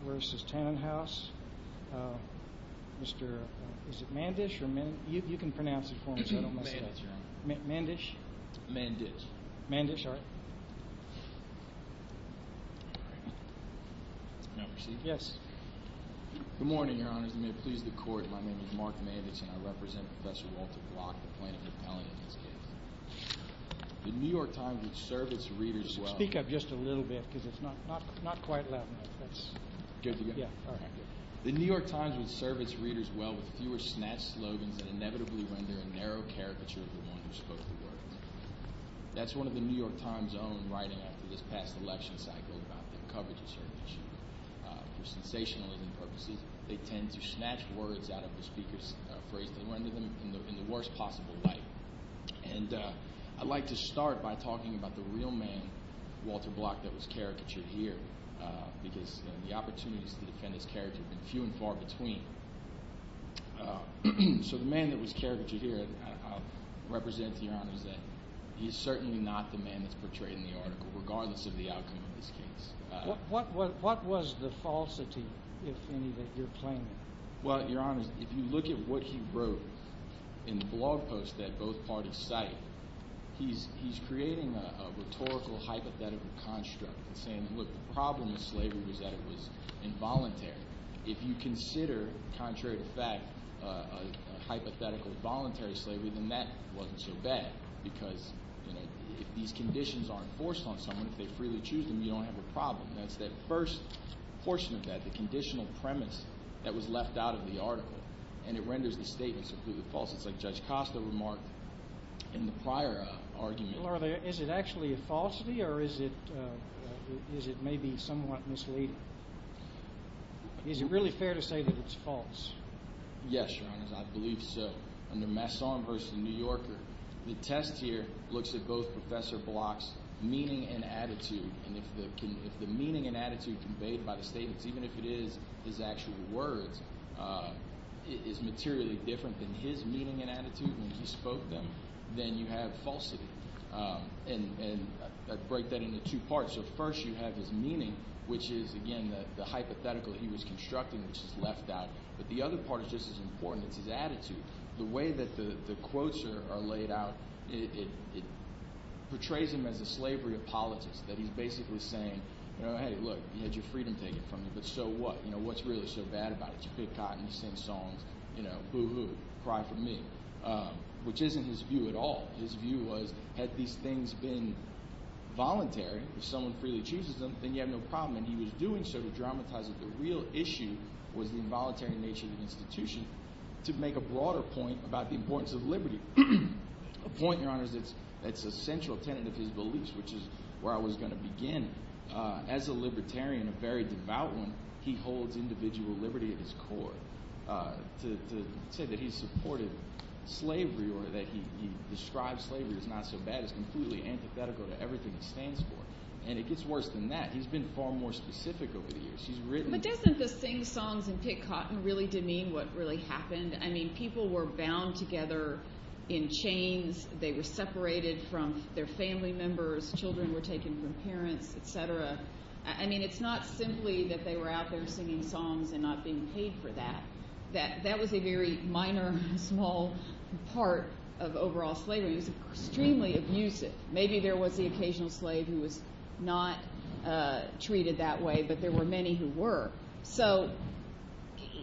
Mark Mandich v. Tannenhaus Good morning, Your Honors. May it please the Court, my name is Mark Mandich, and I represent Professor Walter Block, the plaintiff in this case. The New York Times would serve its readers well with fewer snatched slogans that inevitably render a narrow caricature of the one who spoke the words. That's one of the New York Times' own writing after this past election cycle about their coverage of certain issues. For sensationalism purposes, they tend to snatch words out of the speaker's phrase to render them in the worst possible light. And I'd like to start by talking about the real man, Walter Block, that was caricatured here, because the opportunities to defend his character have been few and far between. So the man that was caricatured here, I'll represent to Your Honors that he's certainly not the man that's portrayed in the article, regardless of the outcome of this case. What was the falsity, if any, that you're claiming? Well, Your Honors, if you look at what he wrote in the blog post that both parties cite, he's creating a rhetorical, hypothetical construct and saying, look, the problem with slavery was that it was involuntary. If you consider, contrary to fact, a hypothetical voluntary slavery, then that wasn't so bad because if these conditions aren't forced on someone, if they freely choose them, you don't have a problem. That's that first portion of that, the conditional premise that was left out of the article, and it renders the statements completely false. It's like Judge Costa remarked in the prior argument. Well, is it actually a falsity or is it maybe somewhat misleading? Is it really fair to say that it's false? Yes, Your Honors, I believe so. The test here looks at both Professor Block's meaning and attitude, and if the meaning and attitude conveyed by the statements, even if it is his actual words, is materially different than his meaning and attitude when he spoke them, then you have falsity. And I break that into two parts. So first you have his meaning, which is, again, the hypothetical he was constructing, which is left out. But the other part is just as important. It's his attitude. The way that the quotes are laid out, it portrays him as a slavery apologist, that he's basically saying, hey, look, you had your freedom taken from you, but so what? What's really so bad about it? You pick cotton, you sing songs, boo-hoo, cry for me, which isn't his view at all. His view was had these things been voluntary, if someone freely chooses them, then you have no problem. And he was doing so to dramatize that the real issue was the involuntary nature of the institution to make a broader point about the importance of liberty, a point, Your Honors, that's a central tenet of his beliefs, which is where I was going to begin. As a libertarian, a very devout one, he holds individual liberty at his core. To say that he supported slavery or that he describes slavery as not so bad is completely antithetical to everything he stands for. And it gets worse than that. He's been far more specific over the years. He's written – But doesn't the sing songs and pick cotton really demean what really happened? I mean people were bound together in chains. They were separated from their family members. Children were taken from parents, et cetera. I mean it's not simply that they were out there singing songs and not being paid for that. That was a very minor, small part of overall slavery. It was extremely abusive. Maybe there was the occasional slave who was not treated that way, but there were many who were. So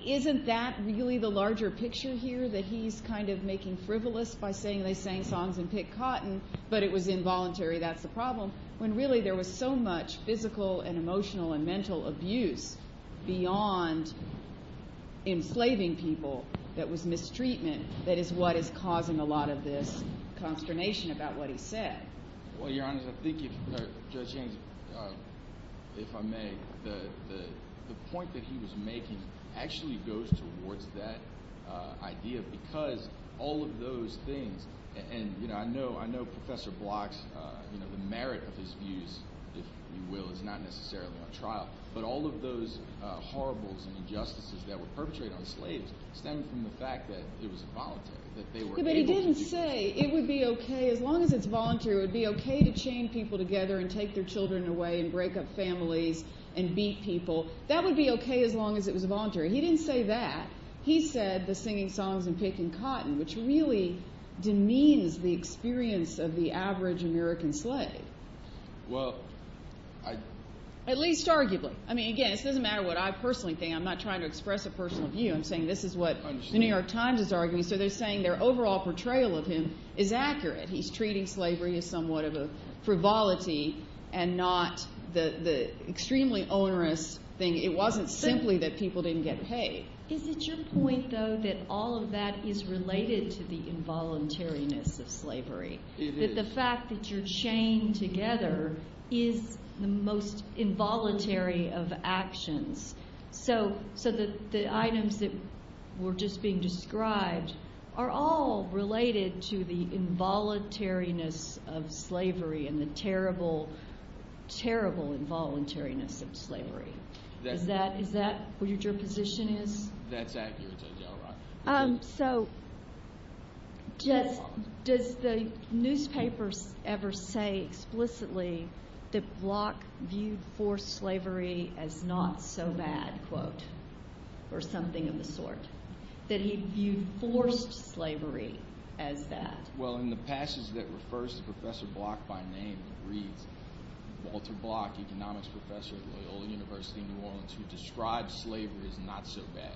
isn't that really the larger picture here, that he's kind of making frivolous by saying they sang songs and picked cotton, but it was involuntary? That's the problem. When really there was so much physical and emotional and mental abuse beyond enslaving people that was mistreatment that is what is causing a lot of this consternation about what he said. Well, Your Honor, I think if Judge James, if I may, the point that he was making actually goes towards that idea because all of those things – I know Professor Blocks, the merit of his views, if you will, is not necessarily on trial, but all of those horribles and injustices that were perpetrated on slaves stem from the fact that it was involuntary, that they were able to do that. Yeah, but he didn't say it would be okay as long as it's voluntary. It would be okay to chain people together and take their children away and break up families and beat people. That would be okay as long as it was voluntary. He didn't say that. He said the singing songs and picking cotton, which really demeans the experience of the average American slave. Well, I – At least arguably. I mean, again, this doesn't matter what I personally think. I'm not trying to express a personal view. I'm saying this is what The New York Times is arguing. So they're saying their overall portrayal of him is accurate. He's treating slavery as somewhat of a frivolity and not the extremely onerous thing. It wasn't simply that people didn't get paid. Is it your point, though, that all of that is related to the involuntariness of slavery? It is. That the fact that you're chained together is the most involuntary of actions. So the items that were just being described are all related to the involuntariness of slavery and the terrible, terrible involuntariness of slavery. Is that what your position is? That's accurate. So does the newspaper ever say explicitly that Bloch viewed forced slavery as not so bad, quote, or something of the sort? That he viewed forced slavery as that? Well, in the passage that refers to Professor Bloch by name, it reads, Walter Bloch, economics professor at Loyola University in New Orleans, who describes slavery as not so bad.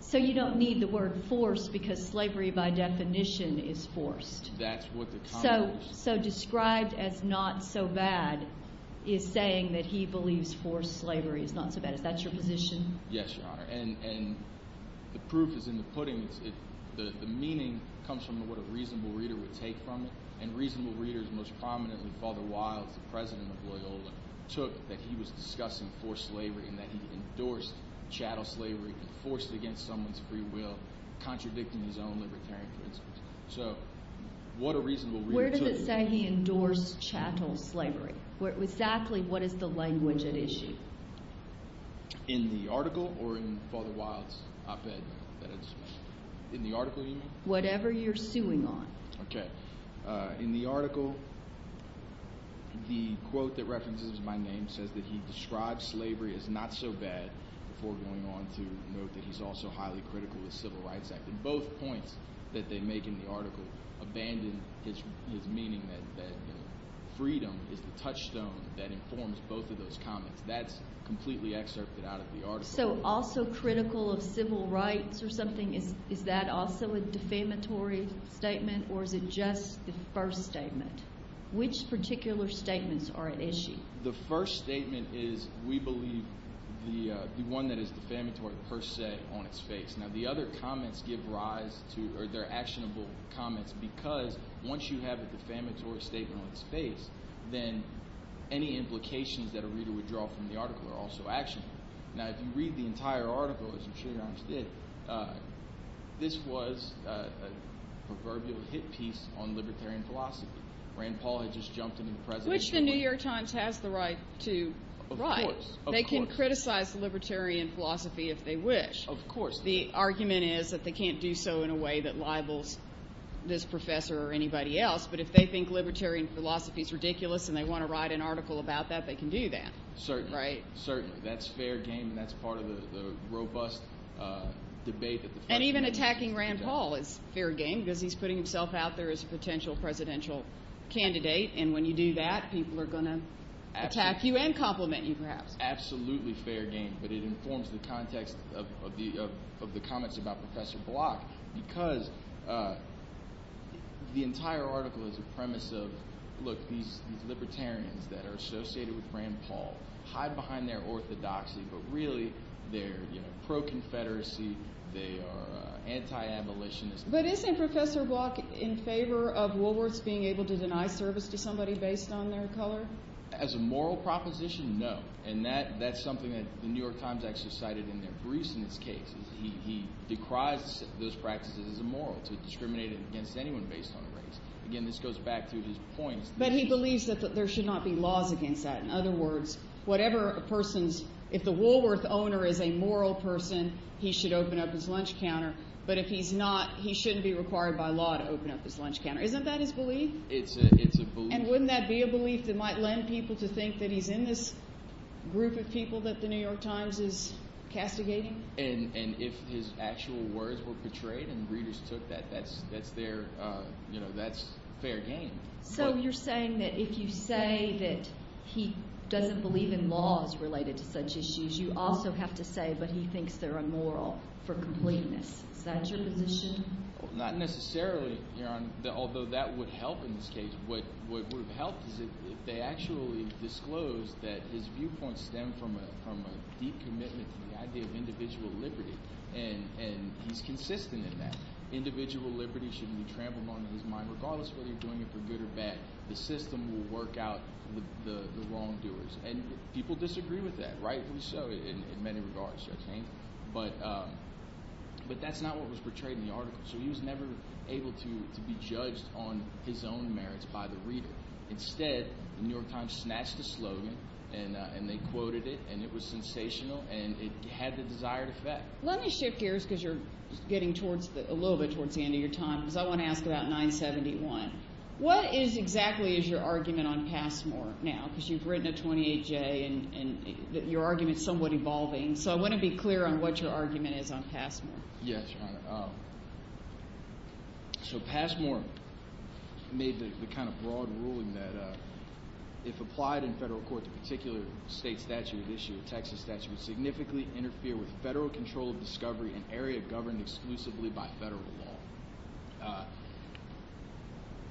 So you don't need the word forced because slavery by definition is forced. That's what the comment was. So described as not so bad is saying that he believes forced slavery is not so bad. Yes, Your Honor. And the proof is in the pudding. The meaning comes from what a reasonable reader would take from it. And reasonable readers, most prominently Father Wilde, the president of Loyola, took that he was discussing forced slavery and that he endorsed chattel slavery and forced it against someone's free will, contradicting his own libertarian principles. So what a reasonable reader took. Where does it say he endorsed chattel slavery? Exactly what is the language at issue? In the article or in Father Wilde's op-ed that I just made? In the article, you mean? Whatever you're suing on. Okay. In the article, the quote that references my name says that he describes slavery as not so bad before going on to note that he's also highly critical of the Civil Rights Act. Both points that they make in the article abandon his meaning that freedom is the touchstone that informs both of those comments. That's completely excerpted out of the article. So also critical of civil rights or something, is that also a defamatory statement or is it just the first statement? Which particular statements are at issue? The first statement is, we believe, the one that is defamatory per se on its face. Now, the other comments give rise to – or they're actionable comments because once you have a defamatory statement on its face, then any implications that a reader would draw from the article are also actionable. Now, if you read the entire article, as I'm sure you understood, this was a proverbial hit piece on libertarian philosophy. Rand Paul had just jumped into the presidential – Which the New York Times has the right to write. Of course. They can criticize libertarian philosophy if they wish. Of course. The argument is that they can't do so in a way that libels this professor or anybody else. But if they think libertarian philosophy is ridiculous and they want to write an article about that, they can do that. Certainly. Right? Certainly. That's fair game and that's part of the robust debate that the federal government – And even attacking Rand Paul is fair game because he's putting himself out there as a potential presidential candidate. And when you do that, people are going to attack you and compliment you perhaps. Absolutely fair game, but it informs the context of the comments about Professor Bloch because the entire article is a premise of, look, these libertarians that are associated with Rand Paul hide behind their orthodoxy, but really they're pro-Confederacy. They are anti-abolitionists. But isn't Professor Bloch in favor of Woolworths being able to deny service to somebody based on their color? As a moral proposition, no. And that's something that the New York Times actually cited in their briefs in this case. He decries those practices as immoral to discriminate against anyone based on race. Again, this goes back to his points. But he believes that there should not be laws against that. In other words, whatever a person's – if the Woolworth owner is a moral person, he should open up his lunch counter. But if he's not, he shouldn't be required by law to open up his lunch counter. Isn't that his belief? It's a belief. And wouldn't that be a belief that might lend people to think that he's in this group of people that the New York Times is castigating? And if his actual words were betrayed and readers took that, that's their – that's fair game. So you're saying that if you say that he doesn't believe in laws related to such issues, you also have to say, but he thinks they're immoral for completeness. Is that your position? Not necessarily. Although that would help in this case. What would have helped is if they actually disclosed that his viewpoint stemmed from a deep commitment to the idea of individual liberty. And he's consistent in that. Individual liberty should be trampled onto his mind regardless of whether you're doing it for good or bad. The system will work out the wrongdoers. And people disagree with that, rightfully so in many regards, Judge Haines. But that's not what was portrayed in the article. So he was never able to be judged on his own merits by the reader. Instead, the New York Times snatched the slogan, and they quoted it, and it was sensational, and it had the desired effect. Let me shift gears because you're getting towards – a little bit towards the end of your time because I want to ask about 971. What is – exactly is your argument on Passmore now? Because you've written a 28-J, and your argument is somewhat evolving. So I want to be clear on what your argument is on Passmore. Yes, Your Honor. So Passmore made the kind of broad ruling that if applied in federal court to a particular state statute at issue, a Texas statute would significantly interfere with federal control of discovery in an area governed exclusively by federal law.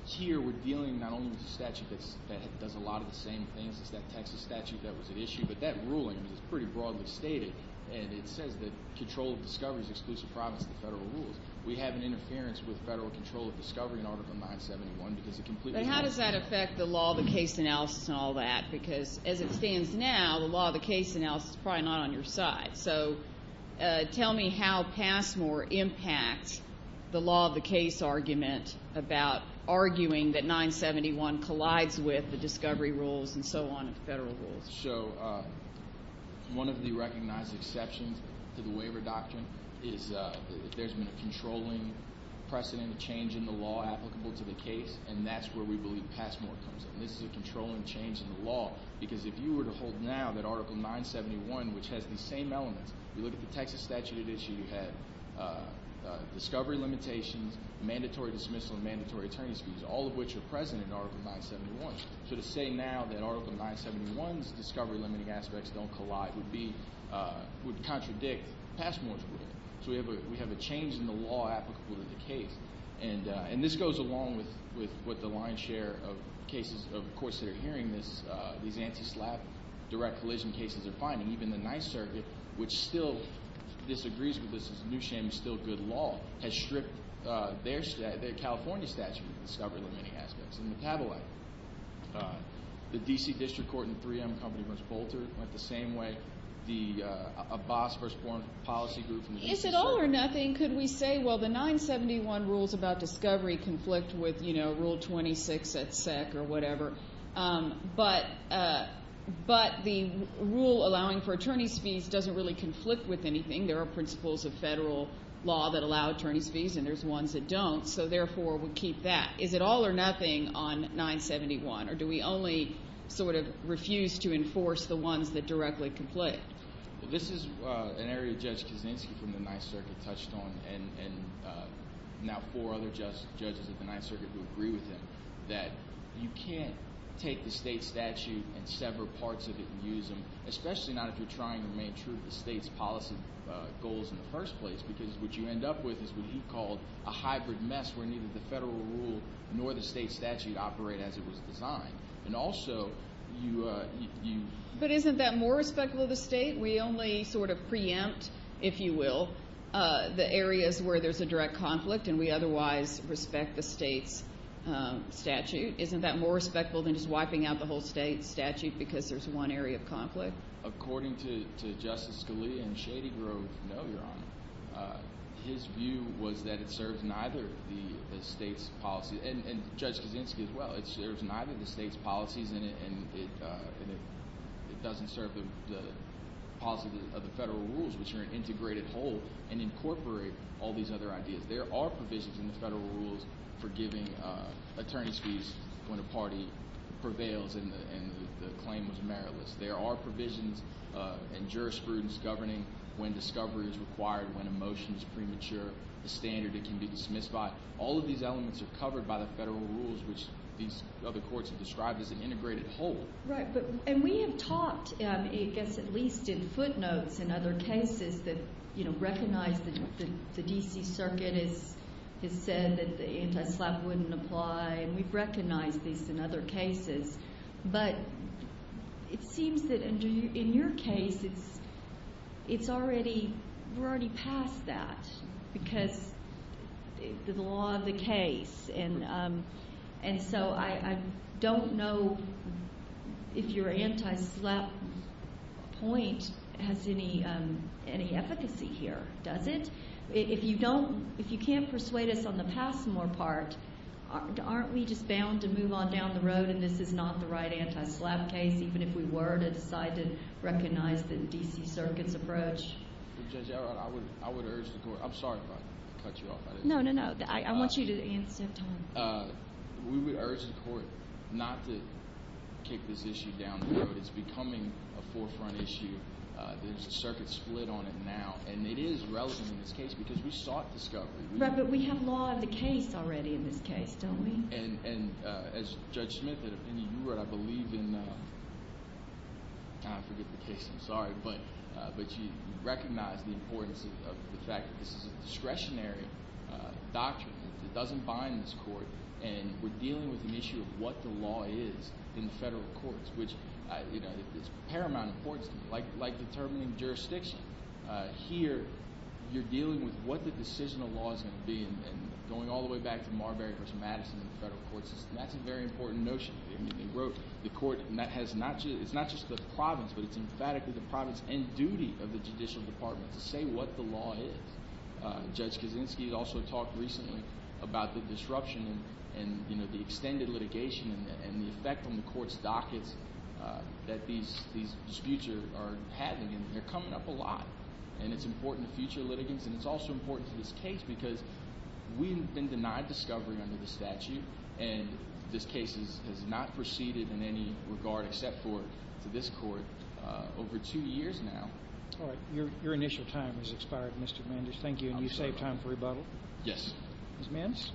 Here we're dealing not only with a statute that does a lot of the same things as that Texas statute that was at issue, but that ruling is pretty broadly stated, and it says that control of discovery is exclusive province of the federal rules. We have an interference with federal control of discovery in Article 971 because it completely – But how does that affect the law of the case analysis and all that? Because as it stands now, the law of the case analysis is probably not on your side. So tell me how Passmore impacts the law of the case argument about arguing that 971 collides with the discovery rules and so on and federal rules. So one of the recognized exceptions to the waiver doctrine is that there's been a controlling precedent, a change in the law applicable to the case, and that's where we believe Passmore comes in. This is a controlling change in the law because if you were to hold now that Article 971, which has the same elements, you look at the Texas statute at issue, you have discovery limitations, mandatory dismissal, and mandatory attorney's fees, all of which are present in Article 971. So to say now that Article 971's discovery limiting aspects don't collide would be – would contradict Passmore's ruling. So we have a change in the law applicable to the case, and this goes along with the lion's share of cases. Of course, they're hearing these anti-SLAPP, direct collision cases they're finding. Even the Ninth Circuit, which still disagrees with this as a new shame and still good law, has stripped their – their California statute of discovery limiting aspects and metabolite. The D.C. District Court in 3M Company v. Bolter went the same way. The – a boss first-born policy group from the – Is it all or nothing? Could we say, well, the 971 rules about discovery conflict with Rule 26 at SEC or whatever, but the rule allowing for attorney's fees doesn't really conflict with anything. There are principles of federal law that allow attorney's fees, and there's ones that don't. So therefore, we'll keep that. Is it all or nothing on 971, or do we only sort of refuse to enforce the ones that directly conflict? Well, this is an area Judge Kaczynski from the Ninth Circuit touched on, and now four other judges at the Ninth Circuit who agree with him, that you can't take the state statute and sever parts of it and use them, especially not if you're trying to remain true to the state's policy goals in the first place, because what you end up with is what he called a hybrid mess where neither the federal rule nor the state statute operate as it was designed. And also, you – But isn't that more respectful of the state? We only sort of preempt, if you will, the areas where there's a direct conflict, and we otherwise respect the state's statute. Isn't that more respectful than just wiping out the whole state statute because there's one area of conflict? According to Justice Scalia and Shady Grove, no, Your Honor. His view was that it serves neither the state's policy – and Judge Kaczynski as well. It serves neither the state's policies, and it doesn't serve the policy of the federal rules, which are an integrated whole, and incorporate all these other ideas. There are provisions in the federal rules for giving attorneys fees when a party prevails and the claim was meritless. There are provisions in jurisprudence governing when discovery is required, when a motion is premature, the standard it can be dismissed by. All of these elements are covered by the federal rules, which these other courts have described as an integrated whole. Right. And we have talked, I guess at least in footnotes in other cases, that recognize the D.C. Circuit has said that the anti-SLAPP wouldn't apply, and we've recognized this in other cases. But it seems that in your case, it's already – we're already past that because of the law of the case. And so I don't know if your anti-SLAPP point has any efficacy here, does it? If you don't – if you can't persuade us on the Passmore part, aren't we just bound to move on down the road and this is not the right anti-SLAPP case, even if we were to decide to recognize the D.C. Circuit's approach? Judge, I would urge the court – I'm sorry if I cut you off. No, no, no. I want you to answer, Tom. We would urge the court not to kick this issue down the road. It's becoming a forefront issue. There's a circuit split on it now. And it is relevant in this case because we sought discovery. Right, but we have law of the case already in this case, don't we? And as Judge Smith said, I believe in – I forget the case. I'm sorry. But you recognize the importance of the fact that this is a discretionary doctrine. It doesn't bind this court. And we're dealing with an issue of what the law is in federal courts, which is of paramount importance to me, like determining jurisdiction. Here you're dealing with what the decision of law is going to be and going all the way back to Marbury v. Madison in the federal court system. That's a very important notion. I mean, they wrote the court, and that has not just – it's not just the province, but it's emphatically the province and duty of the Judicial Department to say what the law is. Judge Kaczynski also talked recently about the disruption and the extended litigation and the effect on the court's dockets that these disputes are having, and they're coming up a lot. And it's important to future litigants, and it's also important to this case because we've been denied discovery under the statute, and this case has not proceeded in any regard except for to this court over two years now. All right. Your initial time has expired, Mr. Mandish. Thank you. And you saved time for rebuttal? Yes. Ms. Mintz?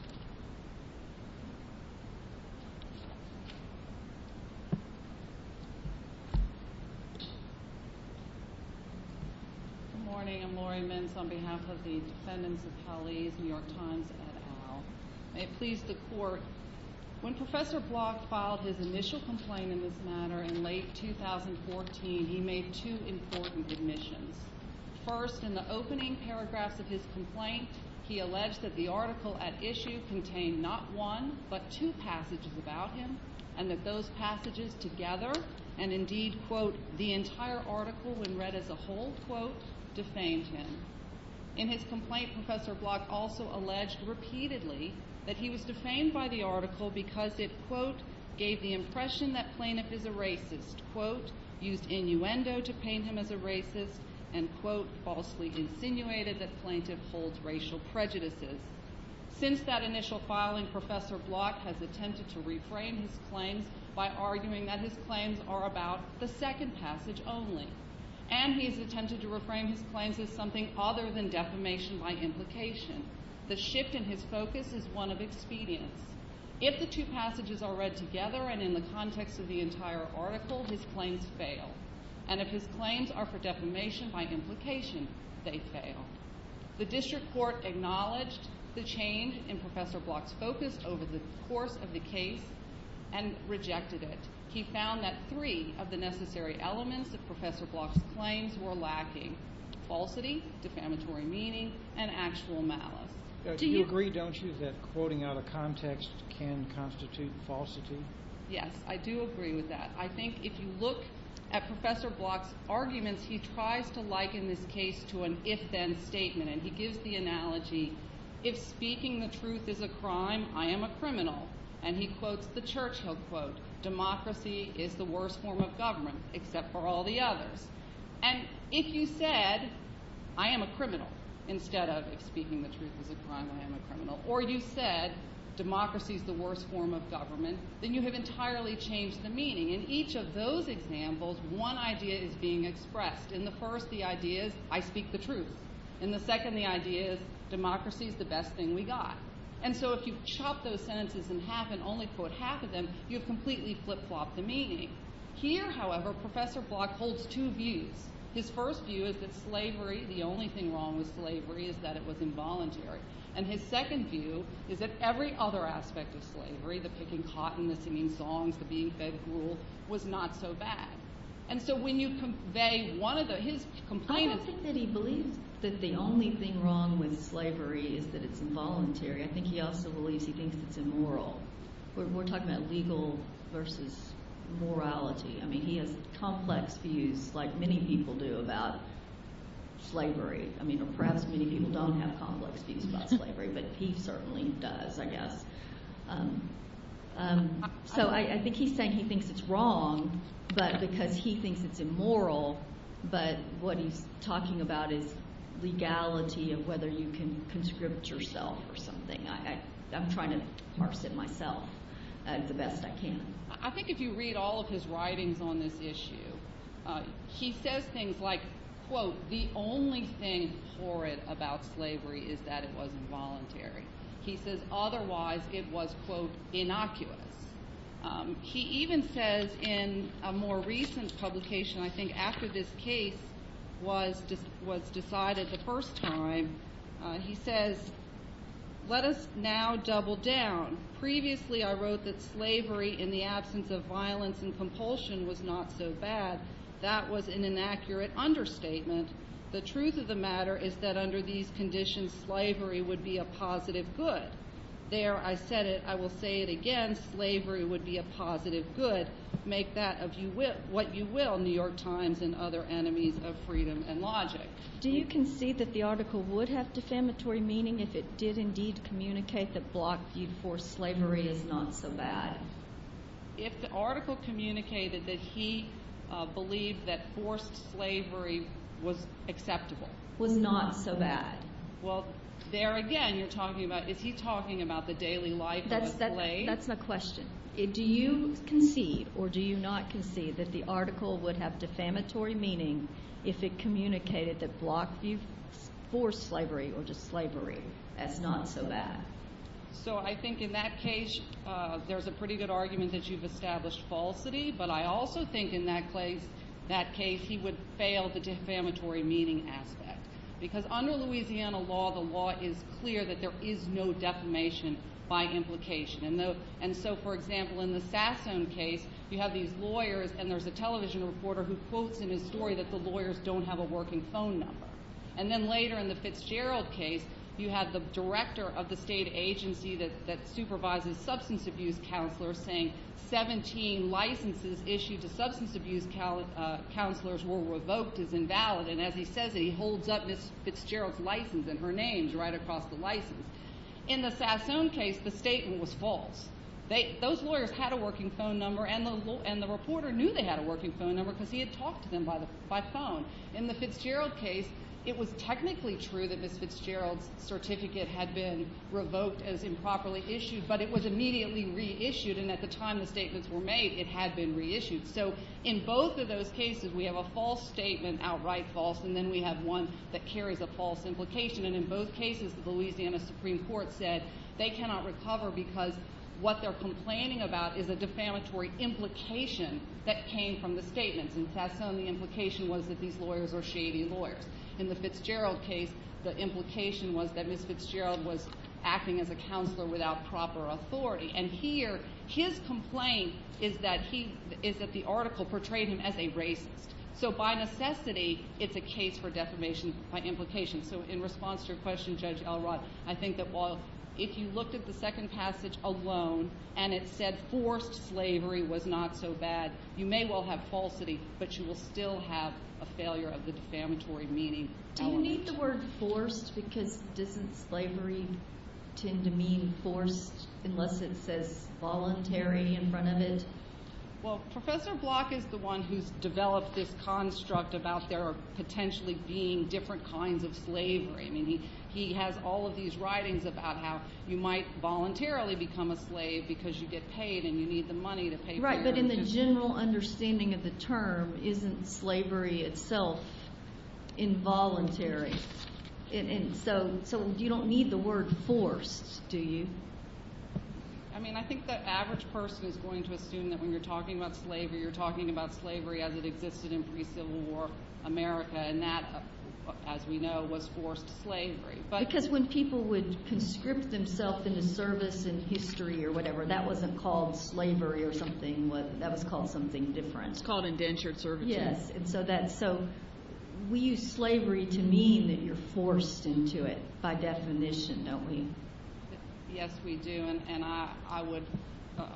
Good morning. I'm Laurie Mintz on behalf of the defendants of Hallie's New York Times et al. May it please the Court, when Professor Block filed his initial complaint in this matter in late 2014, he made two important admissions. First, in the opening paragraphs of his complaint, he alleged that the article at issue contained not one but two passages about him and that those passages together and indeed, quote, the entire article when read as a whole, quote, defamed him. In his complaint, Professor Block also alleged repeatedly that he was defamed by the article because it, quote, gave the impression that Plaintiff is a racist, quote, used innuendo to paint him as a racist, and, quote, falsely insinuated that Plaintiff holds racial prejudices. Since that initial filing, Professor Block has attempted to reframe his claims by arguing that his claims are about the second passage only, and he has attempted to reframe his claims as something other than defamation by implication. The shift in his focus is one of expedience. If the two passages are read together and in the context of the entire article, his claims fail, and if his claims are for defamation by implication, they fail. The district court acknowledged the change in Professor Block's focus over the course of the case and rejected it. He found that three of the necessary elements of Professor Block's claims were lacking, falsity, defamatory meaning, and actual malice. Do you agree, don't you, that quoting out of context can constitute falsity? Yes, I do agree with that. I think if you look at Professor Block's arguments, he tries to liken this case to an if-then statement, and he gives the analogy, if speaking the truth is a crime, I am a criminal, and he quotes the church, he'll quote, democracy is the worst form of government, except for all the others. And if you said, I am a criminal, instead of if speaking the truth is a crime, I am a criminal, or you said democracy is the worst form of government, then you have entirely changed the meaning. In each of those examples, one idea is being expressed. In the first, the idea is, I speak the truth. In the second, the idea is, democracy is the best thing we got. And so if you chop those sentences in half and only quote half of them, you've completely flip-flopped the meaning. Here, however, Professor Block holds two views. His first view is that slavery, the only thing wrong with slavery, is that it was involuntary. And his second view is that every other aspect of slavery, the picking cotton, the singing songs, the being fed gruel, was not so bad. And so when you convey one of the – his complaint is – I don't think that he believes that the only thing wrong with slavery is that it's involuntary. I think he also believes he thinks it's immoral. We're talking about legal versus morality. I mean, he has complex views, like many people do, about slavery. I mean, perhaps many people don't have complex views about slavery, but he certainly does, I guess. So I think he's saying he thinks it's wrong because he thinks it's immoral, but what he's talking about is legality of whether you can conscript yourself or something. I'm trying to parse it myself the best I can. I think if you read all of his writings on this issue, he says things like, quote, the only thing horrid about slavery is that it was involuntary. He says otherwise it was, quote, innocuous. He even says in a more recent publication, I think after this case was decided the first time, he says, let us now double down. Previously I wrote that slavery in the absence of violence and compulsion was not so bad. That was an inaccurate understatement. The truth of the matter is that under these conditions, slavery would be a positive good. There I said it. I will say it again. Slavery would be a positive good. Make that what you will, New York Times and other enemies of freedom and logic. Do you concede that the article would have defamatory meaning if it did indeed communicate that Block viewed forced slavery as not so bad? If the article communicated that he believed that forced slavery was acceptable. Was not so bad. Well, there again you're talking about, is he talking about the daily life of a slave? That's my question. Do you concede or do you not concede that the article would have defamatory meaning if it communicated that Block viewed forced slavery or just slavery as not so bad? So I think in that case, there's a pretty good argument that you've established falsity. But I also think in that case, he would fail the defamatory meaning aspect. Because under Louisiana law, the law is clear that there is no defamation by implication. And so, for example, in the Sassoon case, you have these lawyers and there's a television reporter who quotes in his story that the lawyers don't have a working phone number. And then later in the Fitzgerald case, you have the director of the state agency that supervises substance abuse counselors saying 17 licenses issued to substance abuse counselors were revoked as invalid. And as he says it, he holds up Ms. Fitzgerald's license and her name right across the license. In the Sassoon case, the statement was false. Those lawyers had a working phone number, and the reporter knew they had a working phone number because he had talked to them by phone. In the Fitzgerald case, it was technically true that Ms. Fitzgerald's certificate had been revoked as improperly issued, but it was immediately reissued. And at the time the statements were made, it had been reissued. So in both of those cases, we have a false statement outright false, and then we have one that carries a false implication. And in both cases, the Louisiana Supreme Court said they cannot recover because what they're complaining about is a defamatory implication that came from the statements. In Sassoon, the implication was that these lawyers were shady lawyers. In the Fitzgerald case, the implication was that Ms. Fitzgerald was acting as a counselor without proper authority. And here, his complaint is that the article portrayed him as a racist. So by necessity, it's a case for defamation by implication. So in response to your question, Judge Elrod, I think that while if you looked at the second passage alone and it said forced slavery was not so bad, you may well have falsity, but you will still have a failure of the defamatory meaning element. Do you need the word forced because doesn't slavery tend to mean forced unless it says voluntary in front of it? Well, Professor Block is the one who's developed this construct about there potentially being different kinds of slavery. I mean, he has all of these writings about how you might voluntarily become a slave because you get paid and you need the money to pay for it. Right, but in the general understanding of the term, isn't slavery itself involuntary? And so you don't need the word forced, do you? I mean, I think the average person is going to assume that when you're talking about slavery, you're talking about slavery as it existed in pre-Civil War America, and that, as we know, was forced slavery. Because when people would conscript themselves into service in history or whatever, that wasn't called slavery or something. That was called something different. It's called indentured servitude. Yes, and so we use slavery to mean that you're forced into it by definition, don't we? Yes, we do, and I would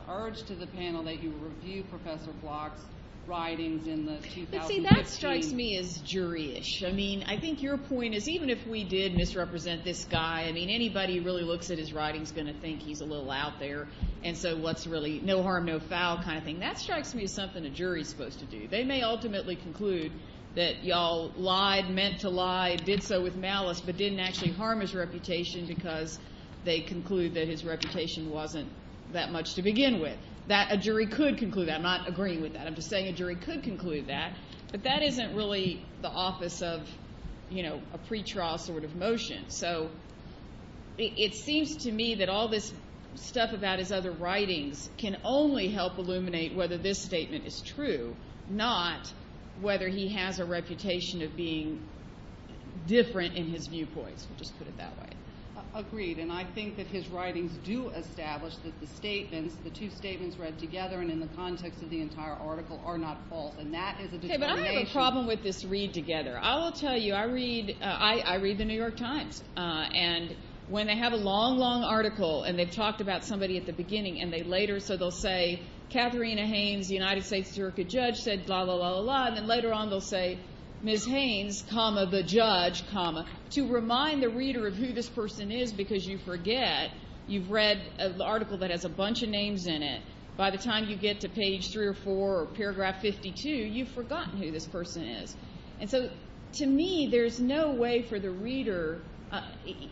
urge to the panel that you review Professor Block's writings in the 2015… I mean, I think your point is even if we did misrepresent this guy, I mean, anybody who really looks at his writings is going to think he's a little out there, and so what's really no harm, no foul kind of thing. That strikes me as something a jury is supposed to do. They may ultimately conclude that you all lied, meant to lie, did so with malice, but didn't actually harm his reputation because they conclude that his reputation wasn't that much to begin with. A jury could conclude that. I'm not agreeing with that. I'm just saying a jury could conclude that. But that isn't really the office of a pretrial sort of motion, so it seems to me that all this stuff about his other writings can only help illuminate whether this statement is true, not whether he has a reputation of being different in his viewpoints. We'll just put it that way. Agreed, and I think that his writings do establish that the statements, the two statements read together and in the context of the entire article are not false, and that is a determination. Okay, but I have a problem with this read together. I will tell you, I read the New York Times, and when they have a long, long article and they've talked about somebody at the beginning, and they later, so they'll say, Katharina Haynes, United States juror could judge, said, blah, blah, blah, blah, and then later on they'll say, Ms. Haynes, comma, the judge, comma. To remind the reader of who this person is because you forget, you've read an article that has a bunch of names in it. By the time you get to page three or four or paragraph 52, you've forgotten who this person is. And so to me there's no way for the reader,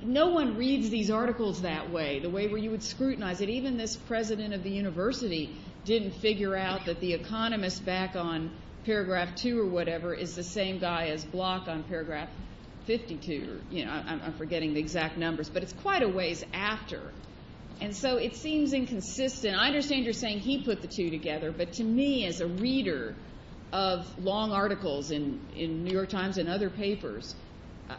no one reads these articles that way, the way where you would scrutinize it. Even this president of the university didn't figure out that the economist back on paragraph two or whatever is the same guy as Block on paragraph 52. I'm forgetting the exact numbers, but it's quite a ways after. And so it seems inconsistent. I understand you're saying he put the two together, but to me as a reader of long articles in New York Times and other papers,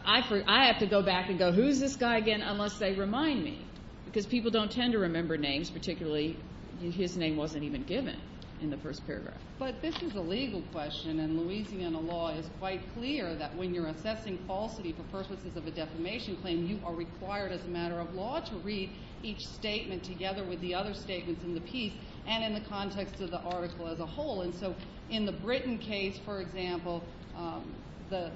I have to go back and go who's this guy again unless they remind me because people don't tend to remember names, particularly his name wasn't even given in the first paragraph. But this is a legal question, and Louisiana law is quite clear that when you're assessing falsity for purposes of a defamation claim, you are required as a matter of law to read each statement together with the other statements in the piece and in the context of the article as a whole. And so in the Britton case, for example,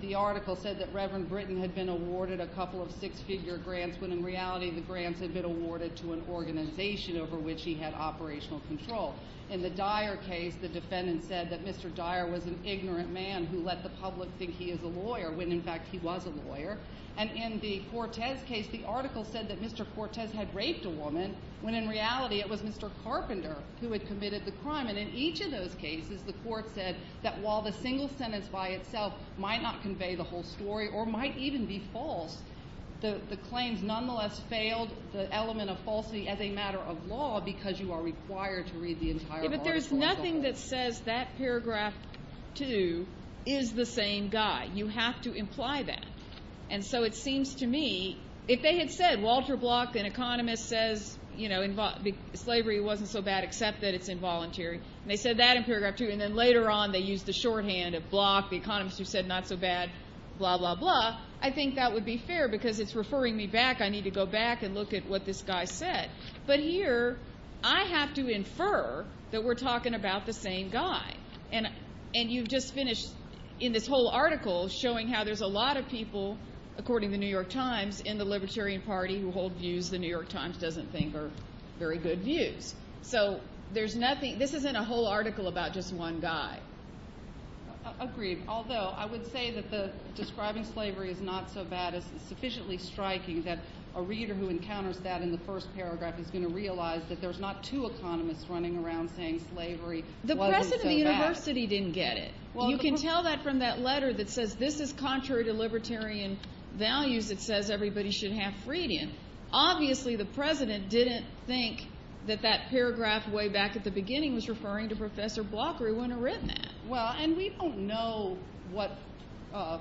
the article said that Reverend Britton had been awarded a couple of six-figure grants when in reality the grants had been awarded to an organization over which he had operational control. In the Dyer case, the defendant said that Mr. Dyer was an ignorant man who let the public think he is a lawyer when in fact he was a lawyer. And in the Cortez case, the article said that Mr. Cortez had raped a woman when in reality it was Mr. Carpenter who had committed the crime. And in each of those cases, the court said that while the single sentence by itself might not convey the whole story or might even be false, the claims nonetheless failed the element of falsity as a matter of law because you are required to read the entire article as a whole. But there's nothing that says that paragraph 2 is the same guy. You have to imply that. And so it seems to me if they had said Walter Bloch, an economist, says slavery wasn't so bad except that it's involuntary, and they said that in paragraph 2 and then later on they used the shorthand of Bloch, the economist who said not so bad, blah, blah, blah, I think that would be fair because it's referring me back. I need to go back and look at what this guy said. But here I have to infer that we're talking about the same guy. And you've just finished in this whole article showing how there's a lot of people, according to The New York Times, in the Libertarian Party who hold views The New York Times doesn't think are very good views. So there's nothing. This isn't a whole article about just one guy. Agreed, although I would say that describing slavery as not so bad is sufficiently striking that a reader who encounters that in the first paragraph is going to realize that there's not two economists running around saying slavery wasn't so bad. The president of the university didn't get it. You can tell that from that letter that says this is contrary to libertarian values. It says everybody should have freedom. Obviously the president didn't think that that paragraph way back at the beginning was referring to Professor Bloch or he wouldn't have written that. Well, and we don't know what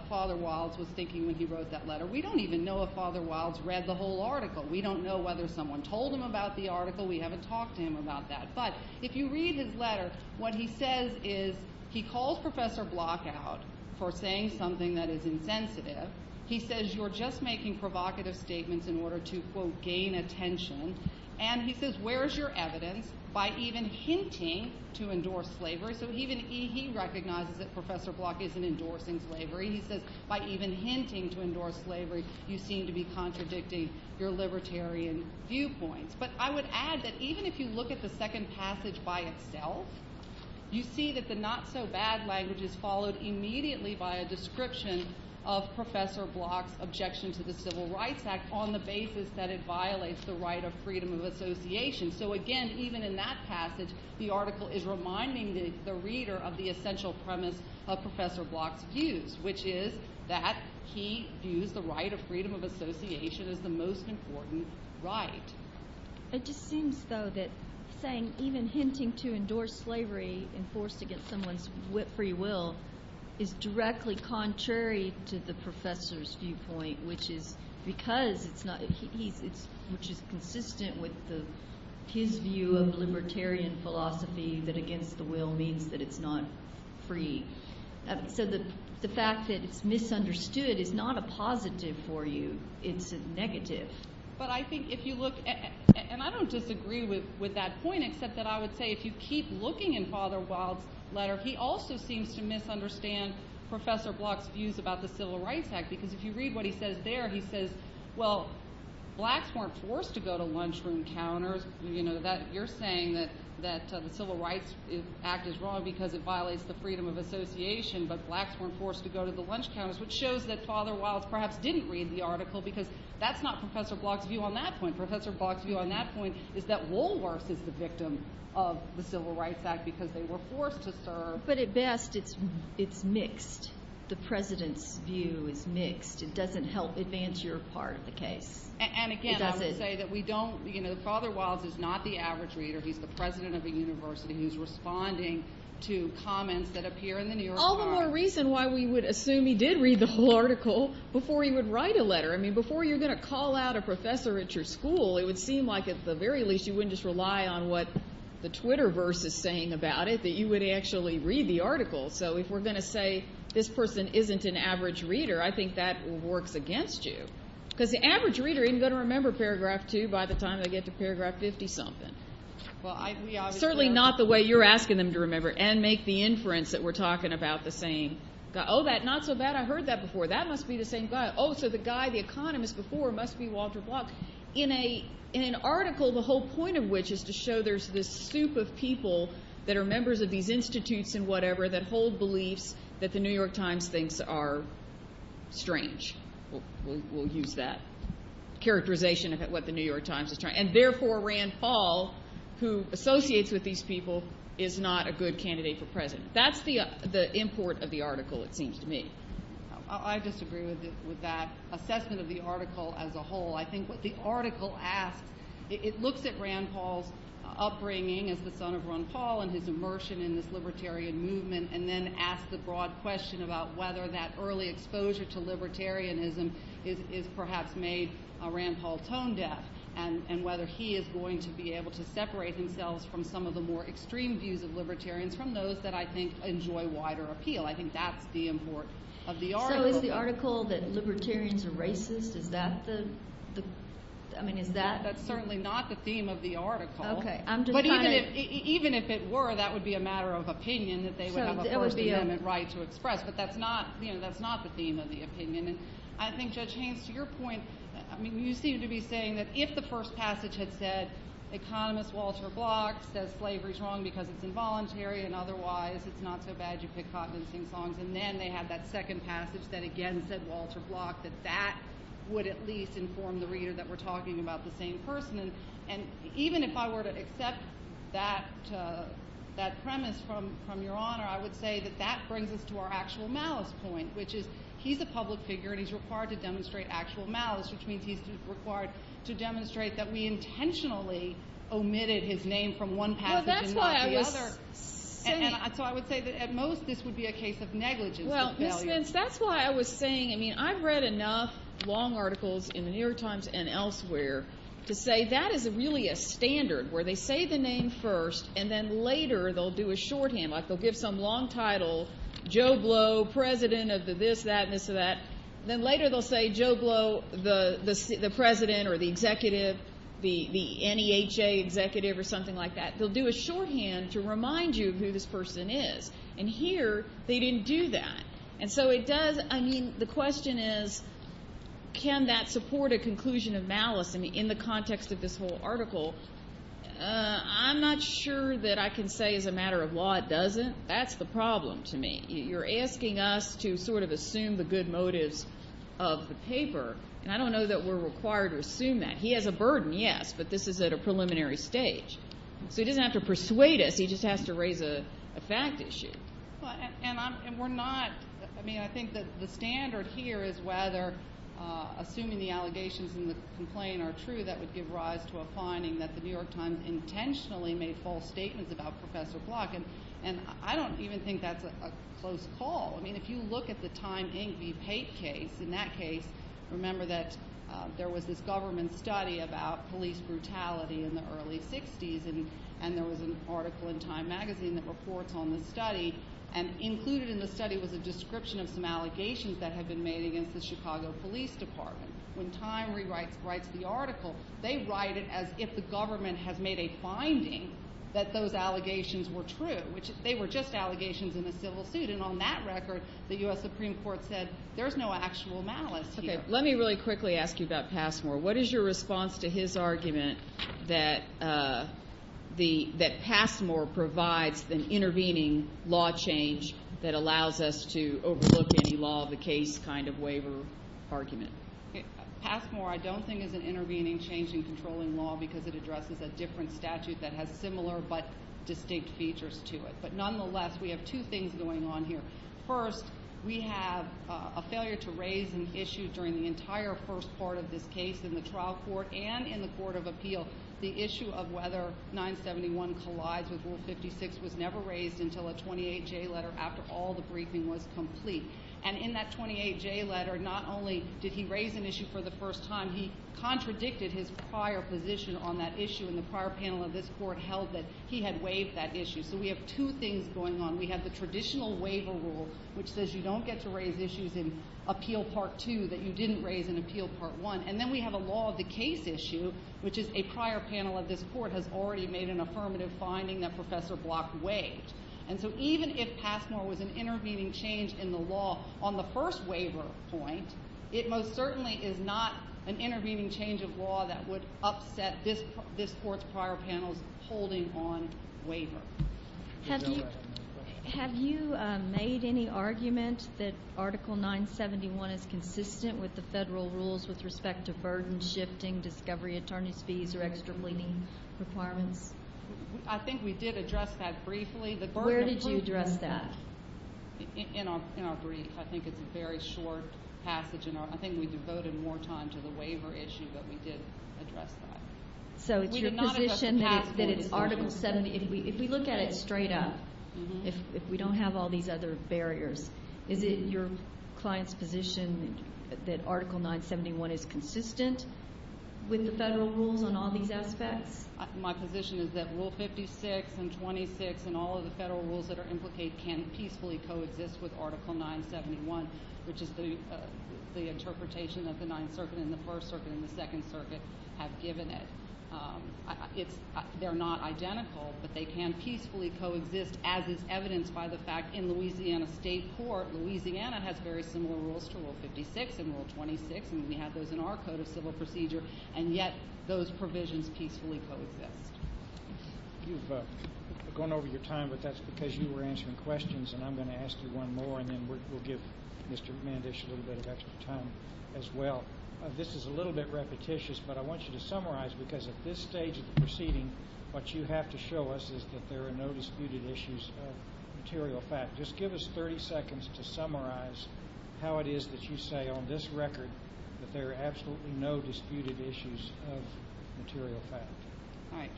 Father Wilds was thinking when he wrote that letter. We don't even know if Father Wilds read the whole article. We don't know whether someone told him about the article. We haven't talked to him about that. But if you read his letter, what he says is he calls Professor Bloch out for saying something that is insensitive. He says you're just making provocative statements in order to, quote, gain attention. And he says where is your evidence by even hinting to endorse slavery? So even he recognizes that Professor Bloch isn't endorsing slavery. He says by even hinting to endorse slavery, you seem to be contradicting your libertarian viewpoints. But I would add that even if you look at the second passage by itself, you see that the not-so-bad language is followed immediately by a description of Professor Bloch's objection to the Civil Rights Act on the basis that it violates the right of freedom of association. So again, even in that passage, the article is reminding the reader of the essential premise of Professor Bloch's views, which is that he views the right of freedom of association as the most important right. It just seems, though, that saying even hinting to endorse slavery and forced against someone's free will is directly contrary to the professor's viewpoint, which is consistent with his view of libertarian philosophy that against the will means that it's not free. So the fact that it's misunderstood is not a positive for you. It's a negative. But I think if you look—and I don't disagree with that point, except that I would say if you keep looking in Father Wilde's letter, he also seems to misunderstand Professor Bloch's views about the Civil Rights Act because if you read what he says there, he says, well, blacks weren't forced to go to lunchroom counters. You're saying that the Civil Rights Act is wrong because it violates the freedom of association, but blacks weren't forced to go to the lunch counters, which shows that Father Wilde perhaps didn't read the article because that's not Professor Bloch's view on that point. Professor Bloch's view on that point is that Woolworths is the victim of the Civil Rights Act because they were forced to serve. But at best, it's mixed. The president's view is mixed. It doesn't help advance your part of the case. And again, I would say that Father Wilde is not the average reader. He's the president of a university. He's responding to comments that appear in the New York Times. All the more reason why we would assume he did read the whole article before he would write a letter. I mean, before you're going to call out a professor at your school, it would seem like, at the very least, you wouldn't just rely on what the Twitterverse is saying about it, that you would actually read the article. So if we're going to say this person isn't an average reader, I think that works against you because the average reader isn't going to remember paragraph 2 by the time they get to paragraph 50-something. Certainly not the way you're asking them to remember and make the inference that we're talking about the same guy. Oh, not so bad. I heard that before. That must be the same guy. Oh, so the guy, the economist before, must be Walter Block. In an article, the whole point of which is to show there's this soup of people that are members of these institutes and whatever that hold beliefs that the New York Times thinks are strange. We'll use that characterization of what the New York Times is trying. And therefore, Rand Paul, who associates with these people, is not a good candidate for president. That's the import of the article, it seems to me. I disagree with that assessment of the article as a whole. I think what the article asks, it looks at Rand Paul's upbringing as the son of Ron Paul and his immersion in this libertarian movement and then asks the broad question about whether that early exposure to libertarianism has perhaps made Rand Paul tone deaf and whether he is going to be able to separate himself from some of the more extreme views of libertarians from those that I think enjoy wider appeal. I think that's the import of the article. So is the article that libertarians are racist, is that the... I mean, is that... That's certainly not the theme of the article. Okay, I'm just trying to... But even if it were, that would be a matter of opinion that they would have a first amendment right to express. But that's not the theme of the opinion. And I think, Judge Haynes, to your point, you seem to be saying that if the first passage had said Economist Walter Bloch says slavery's wrong because it's involuntary and otherwise it's not so bad, you pick cotton and sing songs, and then they have that second passage that again said Walter Bloch, that that would at least inform the reader that we're talking about the same person. And even if I were to accept that premise from Your Honor, I would say that that brings us to our actual malice point, which is he's a public figure and he's required to demonstrate actual malice, which means he's required to demonstrate that we intentionally omitted his name from one passage and not the other. Well, that's why I was saying... And so I would say that at most this would be a case of negligence and failure. Ms. Spence, that's why I was saying, I mean, I've read enough long articles in The New York Times and elsewhere to say that is really a standard where they say the name first and then later they'll do a shorthand, like they'll give some long title, Joe Blow, President of the this, that, and this, and that. Then later they'll say Joe Blow, the President or the Executive, the NEHA Executive or something like that. They'll do a shorthand to remind you of who this person is. And here they didn't do that. And so it does... I mean, the question is, can that support a conclusion of malice in the context of this whole article? I'm not sure that I can say as a matter of law it doesn't. That's the problem to me. You're asking us to sort of assume the good motives of the paper, and I don't know that we're required to assume that. He has a burden, yes, but this is at a preliminary stage. So he doesn't have to persuade us, he just has to raise a fact issue. And we're not... I mean, I think that the standard here is whether assuming the allegations in the complaint are true, that would give rise to a finding that The New York Times intentionally made false statements about Professor Block. And I don't even think that's a close call. I mean, if you look at the Time, Inc. v. Pape case, in that case, remember that there was this government study about police brutality in the early 60s, and there was an article in Time magazine that reports on the study, and included in the study was a description of some allegations that had been made against the Chicago Police Department. When Time rewrites the article, they write it as if the government has made a finding that those allegations were true, which they were just allegations in a civil suit. And on that record, the U.S. Supreme Court said, there's no actual malice here. Okay, let me really quickly ask you about Passmore. What is your response to his argument that Passmore provides an intervening law change that allows us to overlook any law of the case kind of waiver argument? Passmore, I don't think, is an intervening change in controlling law because it addresses a different statute that has similar but distinct features to it. But nonetheless, we have two things going on here. First, we have a failure to raise an issue during the entire first part of this case in the trial court and in the court of appeal. The issue of whether 971 collides with Rule 56 was never raised until a 28J letter after all the briefing was complete. And in that 28J letter, not only did he raise an issue for the first time, he contradicted his prior position on that issue and the prior panel of this court held that he had waived that issue. So we have two things going on. We have the traditional waiver rule, which says you don't get to raise issues in Appeal Part 2 that you didn't raise in Appeal Part 1. And then we have a law of the case issue, which is a prior panel of this court has already made an affirmative finding that Professor Block waived. And so even if Passmore was an intervening change in the law on the first waiver point, it most certainly is not an intervening change of law that would upset this court's prior panels holding on waiver. Have you made any argument that Article 971 is consistent with the federal rules with respect to burden shifting, discovery attorney's fees, or extra pleading requirements? I think we did address that briefly. Where did you address that? In our brief. I think it's a very short passage, and I think we devoted more time to the waiver issue, but we did address that. So it's your position that it's Article 70. If we look at it straight up, if we don't have all these other barriers, is it your client's position that Article 971 is consistent with the federal rules on all these aspects? My position is that Rule 56 and 26 and all of the federal rules that are implicated can peacefully coexist with Article 971, which is the interpretation that the Ninth Circuit and the First Circuit and the Second Circuit have given it. They're not identical, but they can peacefully coexist, as is evidenced by the fact in Louisiana State Court. Louisiana has very similar rules to Rule 56 and Rule 26, and we have those in our Code of Civil Procedure, and yet those provisions peacefully coexist. You've gone over your time, but that's because you were answering questions, and I'm going to ask you one more, and then we'll give Mr. Mandish a little bit of extra time as well. This is a little bit repetitious, but I want you to summarize, because at this stage of the proceeding, what you have to show us is that there are no disputed issues of material fact. Just give us 30 seconds to summarize how it is that you say on this record that there are absolutely no disputed issues of material fact. All right.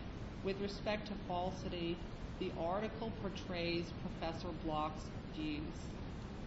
With respect to falsity, the article portrays Professor Bloch's views.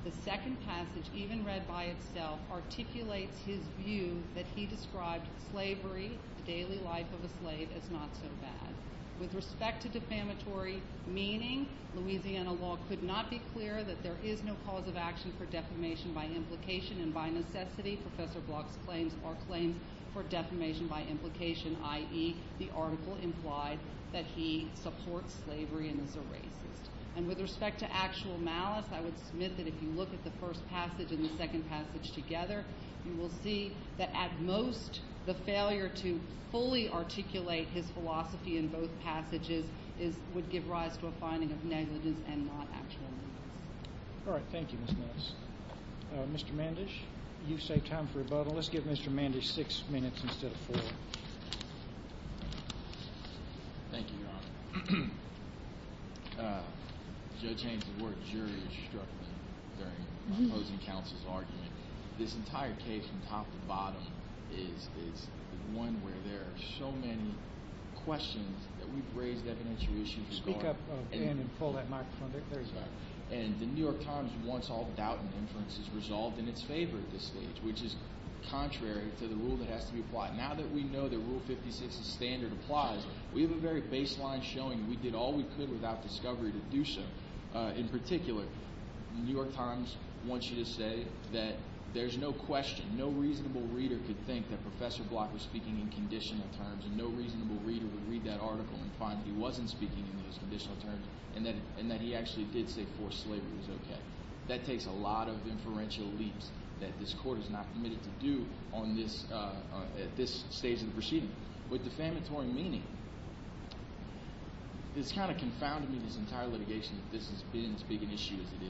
The second passage, even read by itself, articulates his view that he described slavery, the daily life of a slave, as not so bad. With respect to defamatory meaning, Louisiana law could not be clearer that there is no cause of action for defamation by implication, and by necessity, Professor Bloch's claims are claims for defamation by implication, i.e., the article implied that he supports slavery and is a racist. And with respect to actual malice, I would submit that if you look at the first passage and the second passage together, you will see that at most, the failure to fully articulate his philosophy in both passages would give rise to a finding of negligence and not actual malice. All right. Thank you, Ms. Nance. Mr. Mandish, you've saved time for rebuttal. Well, let's give Mr. Mandish six minutes instead of four. Thank you, Your Honor. Judge Haynes's work jury-struck me during the opposing counsel's argument. This entire case from top to bottom is the one where there are so many questions that we've raised evidentially. Speak up again and pull that microphone. There you go. And the New York Times wants all doubt and inference resolved in its favor at this stage, which is contrary to the rule that has to be applied. Now that we know that Rule 56 as standard applies, we have a very baseline showing we did all we could without discovery to do so. In particular, the New York Times wants you to say that there's no question, no reasonable reader could think that Professor Block was speaking in conditional terms, and no reasonable reader would read that article and find that he wasn't speaking in those conditional terms, and that he actually did say forced slavery was okay. That takes a lot of inferential leaps that this court is not permitted to do at this stage of the proceeding. With defamatory meaning, this kind of confounded me this entire litigation that this has been as big an issue as it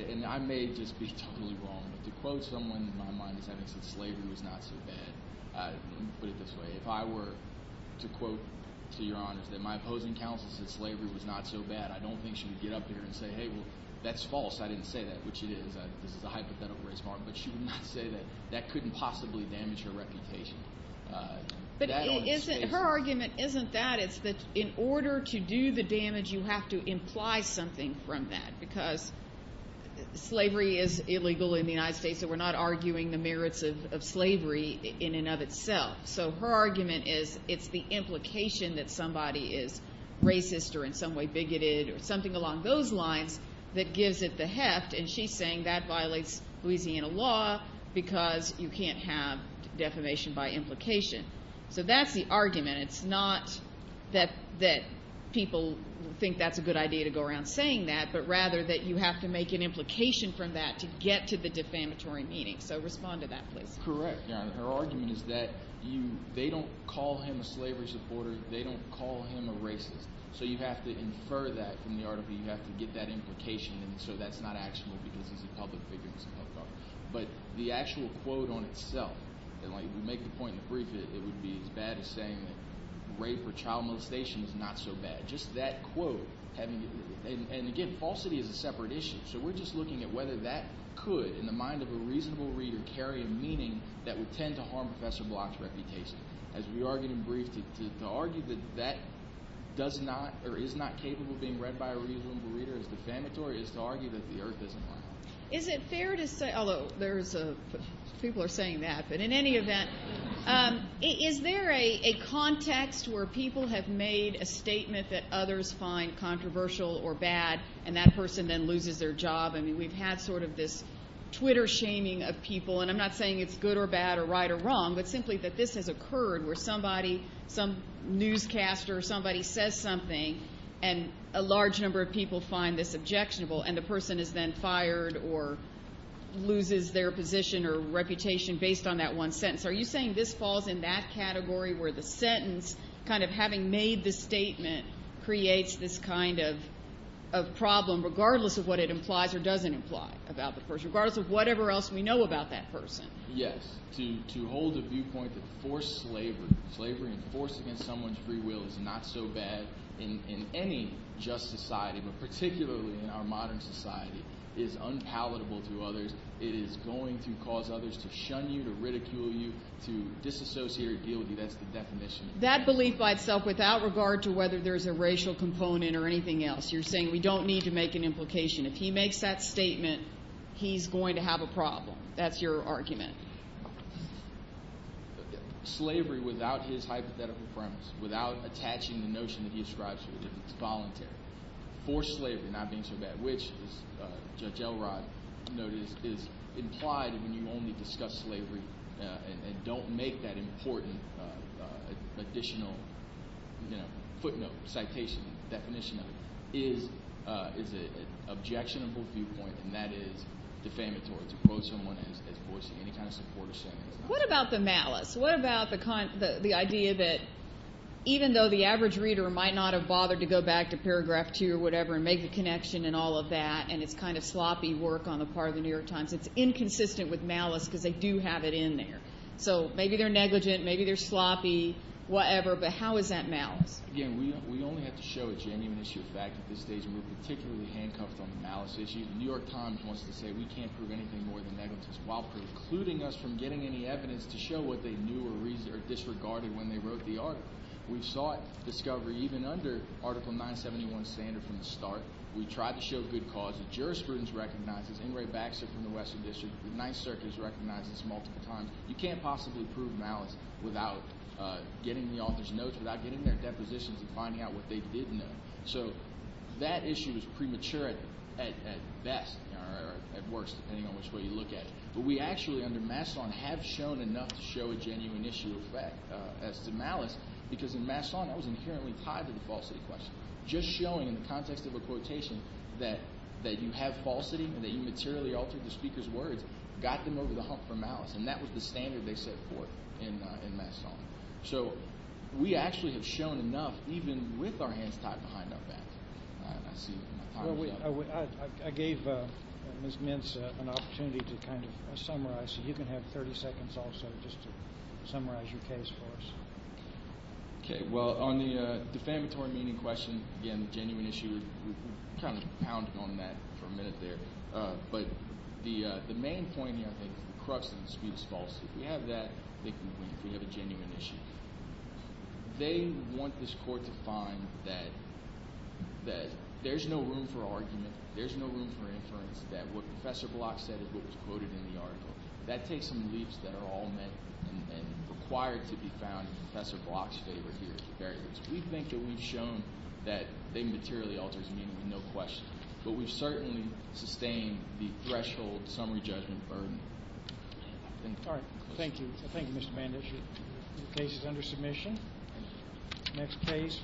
is. And I may just be totally wrong, but to quote someone in my mind that said slavery was not so bad, let me put it this way, if I were to quote, to your honors, that my opposing counsel said slavery was not so bad, I don't think she would get up there and say, hey, well, that's false, I didn't say that, which it is, this is a hypothetical race harm, but she would not say that that couldn't possibly damage her reputation. But her argument isn't that, it's that in order to do the damage, you have to imply something from that, because slavery is illegal in the United States, so we're not arguing the merits of slavery in and of itself. So her argument is it's the implication that somebody is racist or in some way bigoted or something along those lines that gives it the heft, and she's saying that violates Louisiana law because you can't have defamation by implication. So that's the argument. It's not that people think that's a good idea to go around saying that, but rather that you have to make an implication from that to get to the defamatory meaning. So respond to that, please. Correct, Your Honor. Her argument is that they don't call him a slavery supporter, they don't call him a racist. So you have to infer that from the article, you have to get that implication, and so that's not actual because he's a public figure. But the actual quote on itself, and we make the point in the brief that it would be as bad as saying that rape or child molestation is not so bad. Just that quote. And again, falsity is a separate issue, so we're just looking at whether that could, in the mind of a reasonable reader, carry a meaning that would tend to harm Professor Block's reputation. As we argued in brief, to argue that that does not or is not capable of being read by a reasonable reader as defamatory is to argue that the Earth isn't round. Is it fair to say, although people are saying that, but in any event, is there a context where people have made a statement that others find controversial or bad and that person then loses their job? I mean, we've had sort of this Twitter shaming of people, and I'm not saying it's good or bad or right or wrong, but simply that this has occurred where somebody, some newscaster, somebody says something and a large number of people find this objectionable and the person is then fired or loses their position or reputation based on that one sentence. Are you saying this falls in that category where the sentence, kind of having made the statement, creates this kind of problem, regardless of what it implies or doesn't imply about the person, regardless of whatever else we know about that person? Yes. To hold a viewpoint that forced slavery, slavery and force against someone's free will is not so bad in any just society, but particularly in our modern society, is unpalatable to others. It is going to cause others to shun you, to ridicule you, to disassociate or deal with you. That's the definition. That belief by itself, without regard to whether there's a racial component or anything else, you're saying we don't need to make an implication. If he makes that statement, he's going to have a problem. That's your argument. Slavery without his hypothetical premise, without attaching the notion that he ascribes to it, it's voluntary. Forced slavery, not being so bad, which, as Judge Elrod noted, is implied when you only discuss slavery and don't make that important additional footnote, citation, definition of it, is an objectionable viewpoint, and that is defamatory to quote someone as forcing any kind of support. What about the malice? What about the idea that even though the average reader might not have bothered to go back to paragraph 2 or whatever and make the connection and all of that, and it's kind of sloppy work on the part of the New York Times, it's inconsistent with malice because they do have it in there. So maybe they're negligent, maybe they're sloppy, whatever, but how is that malice? Again, we only have to show a genuine issue of fact at this stage, and we're particularly handcuffed on the malice issue. The New York Times wants to say we can't prove anything more than negligence while precluding us from getting any evidence to show what they knew or disregarded when they wrote the article. We sought discovery even under Article 971 standard from the start. We tried to show good cause. The jurisprudence recognizes. Ingray Baxter from the Western District, the Ninth Circuit, has recognized this multiple times. You can't possibly prove malice without getting the author's notes, without getting their depositions and finding out what they did know. So that issue is premature at best, or at worst depending on which way you look at it. But we actually under Masson have shown enough to show a genuine issue of fact as to malice because in Masson that was inherently tied to the falsity question. Just showing in the context of a quotation that you have falsity and that you materially altered the speaker's words got them over the hump for malice, and that was the standard they set forth in Masson. So we actually have shown enough even with our hands tied behind our back. I gave Ms. Mintz an opportunity to kind of summarize. You can have 30 seconds also just to summarize your case for us. Okay. Well, on the defamatory meaning question, again, a genuine issue, we kind of pounded on that for a minute there. But the main point here, I think, is the crux of the dispute is falsity. If we have that, I think we have a genuine issue. They want this court to find that there's no room for argument, there's no room for inference, that what Professor Block said is what was quoted in the article. That takes some leaps that are all meant and required to be found in Professor Block's favor here at the very least. We think that we've shown that they materially altered his meaning, no question. But we've certainly sustained the threshold summary judgment burden. All right. Thank you. Thank you, Mr. Banducci. The case is under submission. Next case.